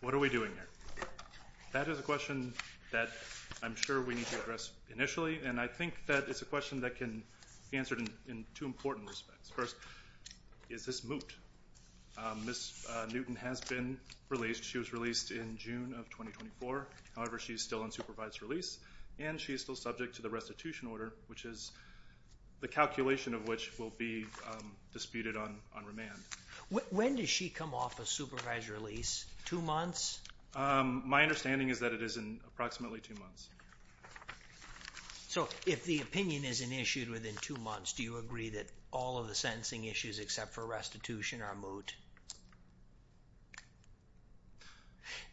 What are we doing here? That is a question that I'm sure we need to address initially, and I think that it's a question that can be answered in two important respects. First, is this moot? Ms. Newton has been released. She was released in June of 2024. However, she's still on supervised release, and she's still subject to the restitution order, which is the calculation of which will be disputed on remand. When does she come off a supervised release? Two months? My understanding is that it is in approximately two months. So, if the opinion isn't issued within two months, do you agree that all of the sentencing issues except for restitution are moot?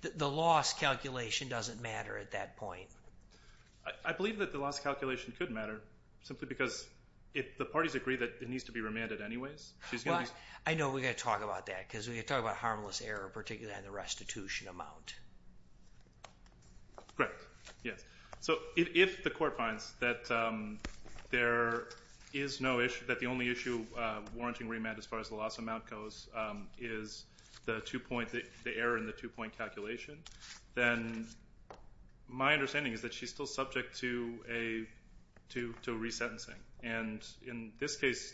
The loss calculation doesn't matter at that point. I believe that the loss calculation could matter, simply because the parties agree that it needs to be remanded anyways. I know we've got to talk about that, because we've got to talk about So, if the court finds that the only issue warranting remand as far as the loss amount goes is the error in the two-point calculation, then my understanding is that she's still subject to resentencing. In this case,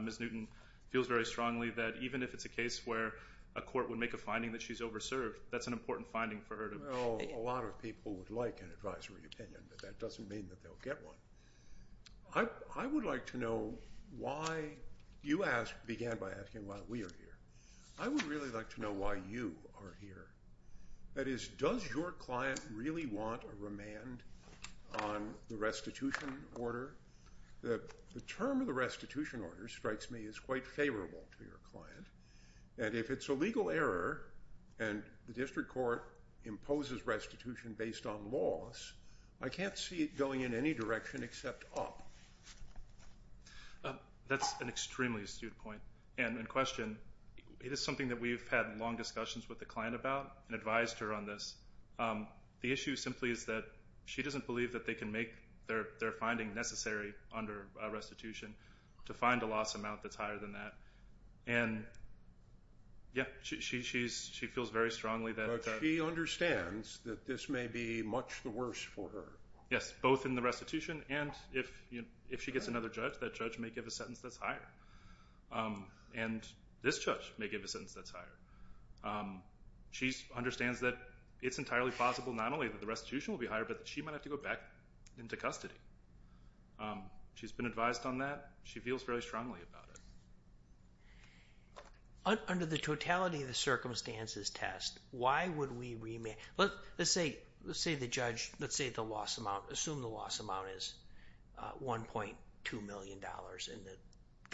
Ms. Newton feels very strongly that even if it's a case where a court would make a finding that she's over-served, that's an important finding for her. Well, a lot of people would like an advisory opinion, but that doesn't mean that they'll get one. I would like to know why you began by asking why we are here. I would really like to know why you are here. That is, does your client really want a remand on the restitution order? The term of the restitution order strikes me as quite favorable to your client, and if it's a legal error and the district court imposes restitution based on loss, I can't see it going in any direction except up. That's an extremely astute point, and in question, it is something that we've had long discussions with the client about and advised her on this. The issue simply is that she doesn't believe that they can make their finding necessary under restitution to find a client. Yeah, she feels very strongly that... But she understands that this may be much the worse for her. Yes, both in the restitution and if she gets another judge, that judge may give a sentence that's higher, and this judge may give a sentence that's higher. She understands that it's entirely possible not only that the restitution will be higher, but that she might have to go back into custody. She's been advised on that. She feels very strongly about it. Under the totality of the circumstances test, why would we remand... Let's say the judge... Let's assume the loss amount is $1.2 million, and the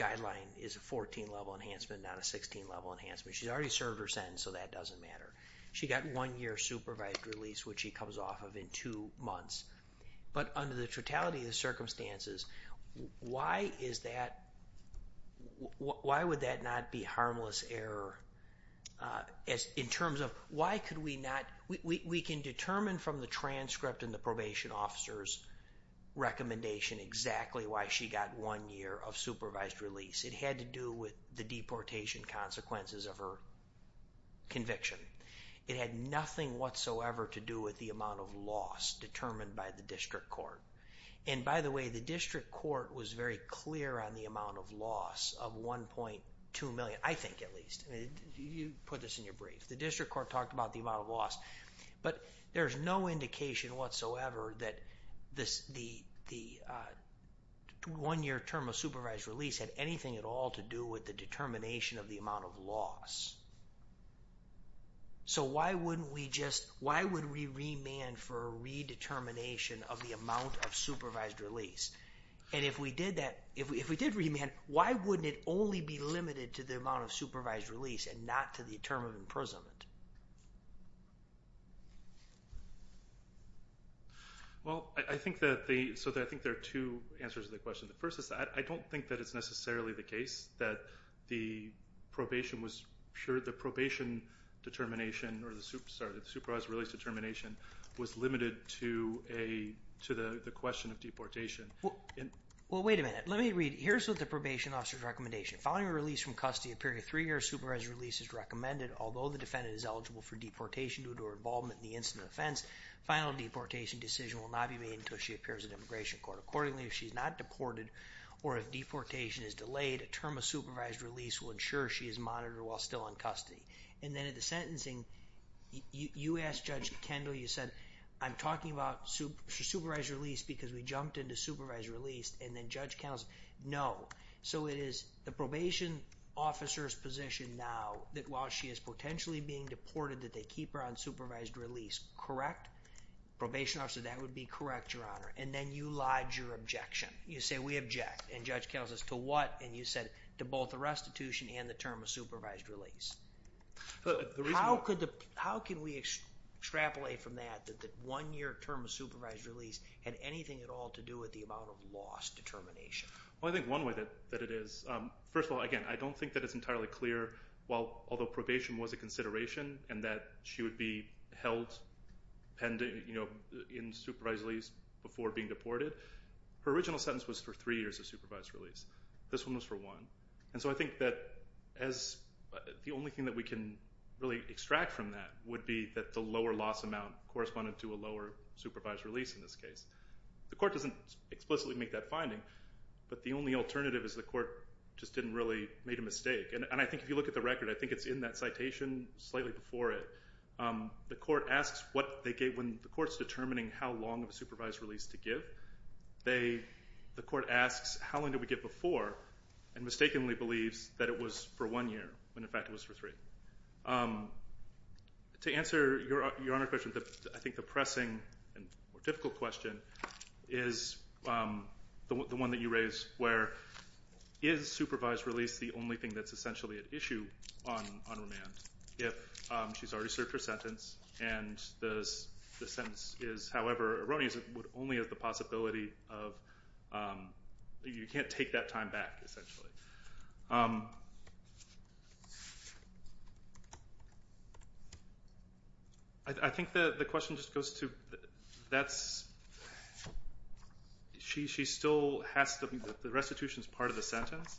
guideline is a 14-level enhancement, not a 16-level enhancement. She's already served her sentence, so that doesn't matter. She got one-year supervised release, which she comes off of in two months. But under the error... In terms of why could we not... We can determine from the transcript and the probation officer's recommendation exactly why she got one year of supervised release. It had to do with the deportation consequences of her conviction. It had nothing whatsoever to do with the amount of loss determined by the district court. By the way, the district court was very clear on amount of loss of $1.2 million, I think at least. You put this in your brief. The district court talked about the amount of loss, but there's no indication whatsoever that the one-year term of supervised release had anything at all to do with the determination of the amount of loss. So why wouldn't we just... Why would we remand for a redetermination of the amount of supervised release? And if we did remand, why wouldn't it only be limited to the amount of supervised release and not to the term of imprisonment? Well, I think that the... So I think there are two answers to the question. The first is that I don't think that it's necessarily the case that the probation was... Sure, the probation determination or the supervised release determination was limited to the question of deportation. Well, wait a minute. Let me read. Here's what the probation officer's recommendation. Following release from custody, a period of three years, supervised release is recommended. Although the defendant is eligible for deportation due to her involvement in the incident offense, final deportation decision will not be made until she appears in immigration court. Accordingly, if she's not deported or if deportation is delayed, a term of supervised release will ensure she is monitored while still in custody. And then at the sentencing, you asked Judge Kendall, you said, I'm talking about supervised release because we jumped into supervised release. And then Judge Kendall said, no. So it is the probation officer's position now that while she is potentially being deported, that they keep her on supervised release, correct? Probation officer, that would be correct, Your Honor. And then you lied your objection. You say, we object. And Judge Kendall says, to what? And you said, to both the restitution and the term of supervised release. How can we extrapolate from that that one-year term of supervised release had anything at all to do with the amount of lost determination? Well, I think one way that it is, first of all, again, I don't think that it's entirely clear. Although probation was a consideration and that she would be held in supervised release before being deported, her original sentence was for three years of supervised release. This one was for one. And so I think that the only thing that we can really extract from that would be that the lower loss amount corresponded to a lower supervised release in this case. The court doesn't explicitly make that finding, but the only alternative is the court just didn't really make a mistake. And I think if you look at the record, I think it's in that citation slightly before it. The court asks what they gave when the court's determining how long of a supervised release to give. The court asks how long did we give before and mistakenly believes that it was for one year, when in fact it was for three. To answer Your Honor's question, I think the pressing and more difficult question is the one that you raise, where is supervised release the only thing that's essentially at issue on remand if she's already served her sentence and the sentence is however erroneous, it would only have the possibility of, you can't take that time back essentially. I think the question just goes to that's, she still has to, the restitution is part of the sentence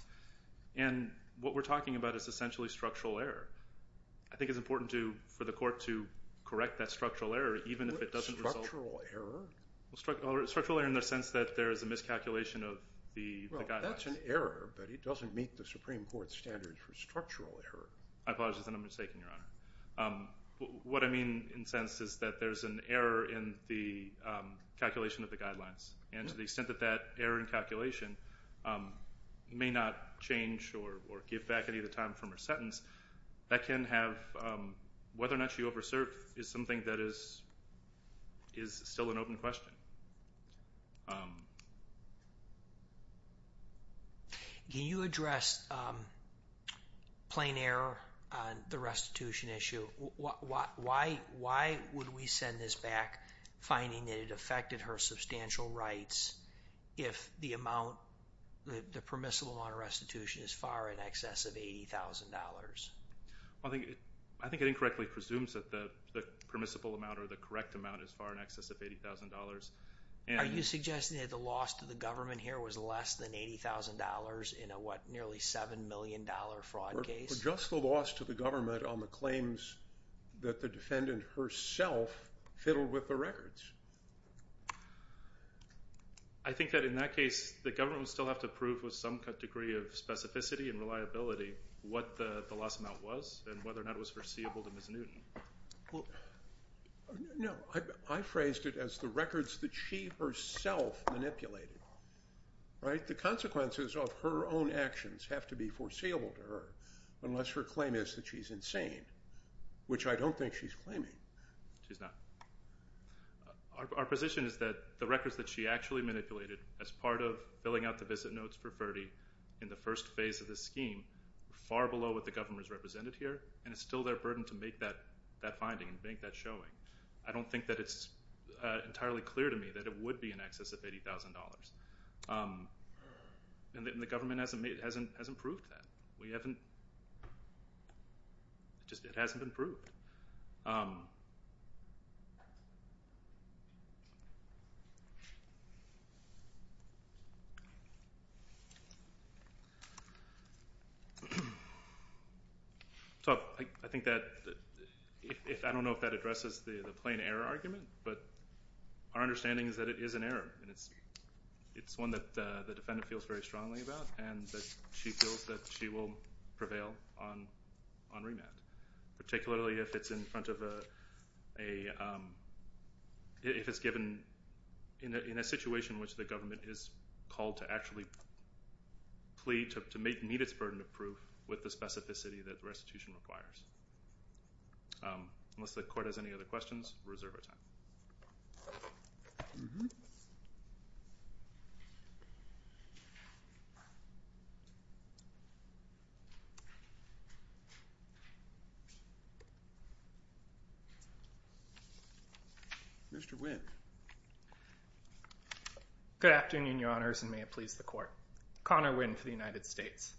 and what we're talking about is structural error. I think it's important for the court to correct that structural error even if it doesn't result. Structural error? Structural error in the sense that there is a miscalculation of the guidelines. That's an error, but it doesn't meet the Supreme Court's standards for structural error. I apologize, I'm mistaken Your Honor. What I mean in a sense is that there's an error in the calculation of the guidelines. And to the extent that that error in calculation may not change or give back any of the time from her sentence, that can have, whether or not she over served is something that is still an open question. Can you address plain error on the restitution issue? Why would we send this back finding that affected her substantial rights if the amount, the permissible amount of restitution is far in excess of $80,000? I think it incorrectly presumes that the permissible amount or the correct amount is far in excess of $80,000. Are you suggesting that the loss to the government here was less than $80,000 in a what, nearly $7 million fraud case? Just the loss to the government on the that the defendant herself fiddled with the records. I think that in that case the government would still have to prove with some degree of specificity and reliability what the loss amount was and whether or not it was foreseeable to Ms. Newton. No, I phrased it as the records that she herself manipulated. The consequences of her own actions have to be foreseeable to her unless her claim is that she's insane, which I don't think she's claiming. She's not. Our position is that the records that she actually manipulated as part of filling out the visit notes for Ferdy in the first phase of the scheme were far below what the government has represented here and it's still their burden to make that finding and make that showing. I don't think that it's entirely clear to me that it would be in excess of $80,000. And the government hasn't proved that. We haven't, just it hasn't been proved. So I think that if, I don't know if that addresses the the plain error argument, but our understanding is that it is an error and it's one that the defendant feels very strongly about and that she feels that she will prevail on remand, particularly if it's in front of a, if it's given in a situation in which the government is called to actually plead to meet its burden of proof with the specificity that restitution requires. Unless the court has any other questions, we'll reserve our time. Mr. Wynn. Good afternoon, your honors, and may it please the court. Connor Wynn for the United States.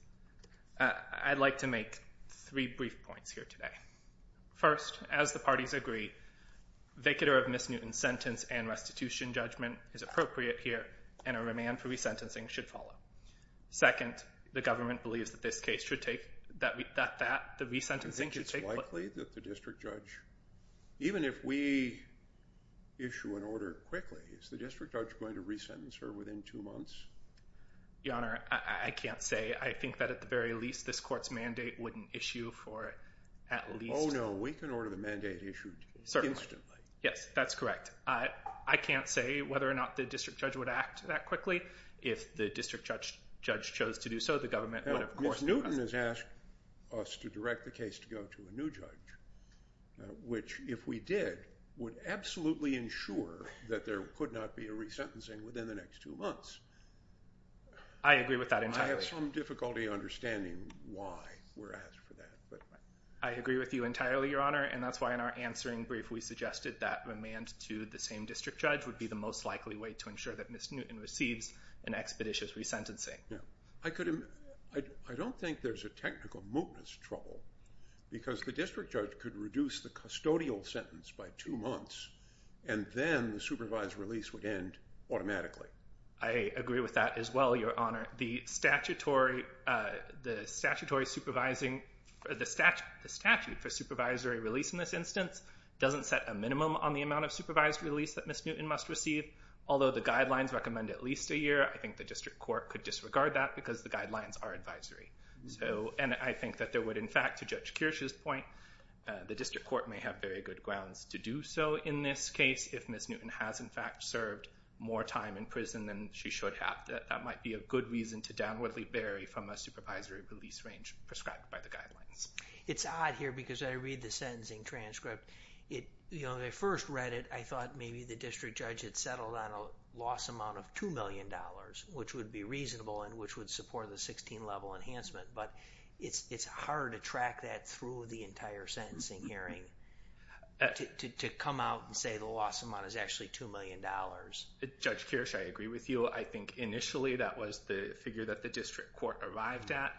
I'd like to make three brief points here today. First, as the parties agree, vicator of Ms. Newton's sentence and restitution judgment is appropriate here, and a remand for resentencing should follow. Second, the government believes that this case should take, that the resentencing should take place. I think it's likely that the district judge, even if we issue an order quickly, is the district judge going to resentence her within two months? Your honor, I can't say. I think that at the very least this court's mandate wouldn't issue for at least... Oh no, we can order the mandate issued instantly. Yes, that's correct. I can't say whether or not the district judge would act that quickly. If the district judge chose to do so, the government would of course... Ms. Newton has asked us to direct the case to go to a new judge, which if we did, would absolutely ensure that there could not be a resentencing within the next two months. I agree with that entirely. I have some difficulty understanding why we're asked for that. I agree with you entirely, your honor, and that's why in our answering brief, we suggested that remand to the same district judge would be the most likely way to ensure that Ms. Newton receives an expeditious resentencing. I don't think there's a technical mootness trouble because the district judge could reduce the custodial sentence by two months, and then the supervised release would end automatically. I agree with that as well, your honor. The statutory supervising... The statute for supervisory release in this instance doesn't set a minimum on the amount of supervised release that Ms. Newton must receive. Although the guidelines recommend at least a year, I think the district court could disregard that because the guidelines are advisory. And I think that there would in fact, to Judge Kirsch's point, the district court may have very good grounds to do so in this case. If Ms. Newton has in fact served more time in prison than she should have, that might be a good reason to downwardly vary from a supervisory release range prescribed by the It's odd here because I read the sentencing transcript. When I first read it, I thought maybe the district judge had settled on a loss amount of $2 million, which would be reasonable and which would support the 16-level enhancement. But it's hard to track that through the entire sentencing hearing to come out and say the loss amount is actually $2 million. Judge Kirsch, I agree with you. I think initially that was the figure that the district court arrived at.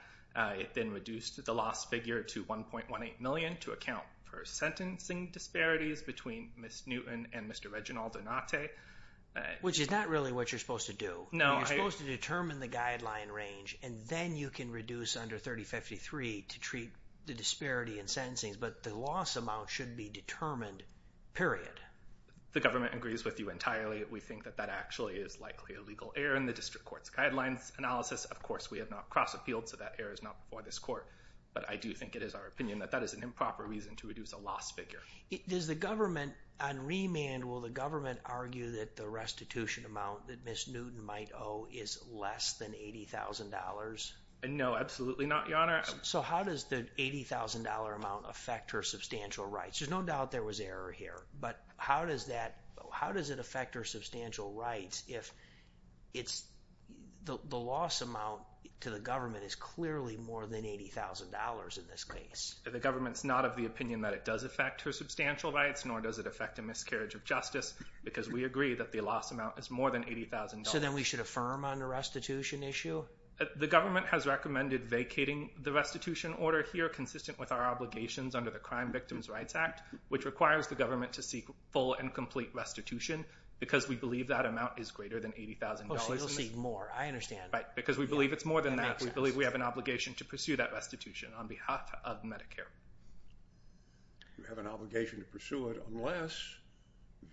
It then reduced the loss figure to $1.18 million to account for sentencing disparities between Ms. Newton and Mr. Reginald Donate. Which is not really what you're supposed to do. You're supposed to determine the guideline range and then you can reduce under 3053 to treat the disparity in sentencing. But the loss amount should be determined, period. The government agrees with you entirely. We think that that actually is likely a legal error in the district court's guidelines analysis. Of course, we have not cross-appealed, so that error is not before this court. But I do think it is our opinion that that is an improper reason to reduce a loss figure. Does the government on remand, will the government argue that the restitution amount that Ms. Newton might owe is less than $80,000? No, absolutely not, Your Honor. So how does the $80,000 amount affect her substantial rights? There's no doubt there was error here. But how does it affect her substantial rights if the loss amount to the government is clearly more than $80,000 in this case? The government's not of the opinion that it does affect her substantial rights, nor does it affect a miscarriage of justice, because we agree that the loss amount is more than $80,000. So then we should affirm on the restitution issue? The government has recommended vacating the restitution order here, consistent with our obligations under the Crime Victims' Rights Act, which requires the government to seek full and complete restitution, because we believe that amount is greater than $80,000. Oh, so you'll seek more. I understand. Right, because we believe it's more than that. We believe we have an obligation to pursue that restitution on behalf of Medicare. You have an obligation to pursue it unless,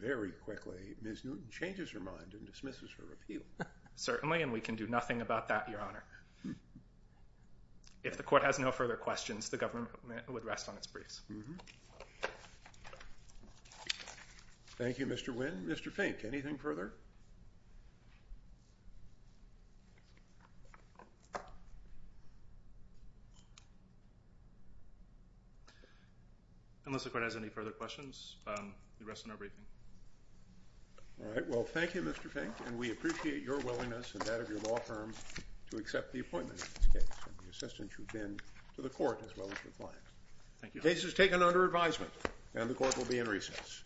very quickly, Ms. Newton changes her mind and dismisses her repeal. Certainly, and we can do nothing about that, Your Honor. If the court has no further questions, the government would rest on its briefs. Thank you, Mr. Wynn. Mr. Fink, anything further? Unless the court has any further questions, we rest on our briefing. All right. Well, thank you, Mr. Fink, and we appreciate your willingness and that of your law firm to accept the appointment of this case, and the assistance you've been to the court, as well as your clients. Thank you, Your Honor. The case is taken under advisement, and the court will be in recess.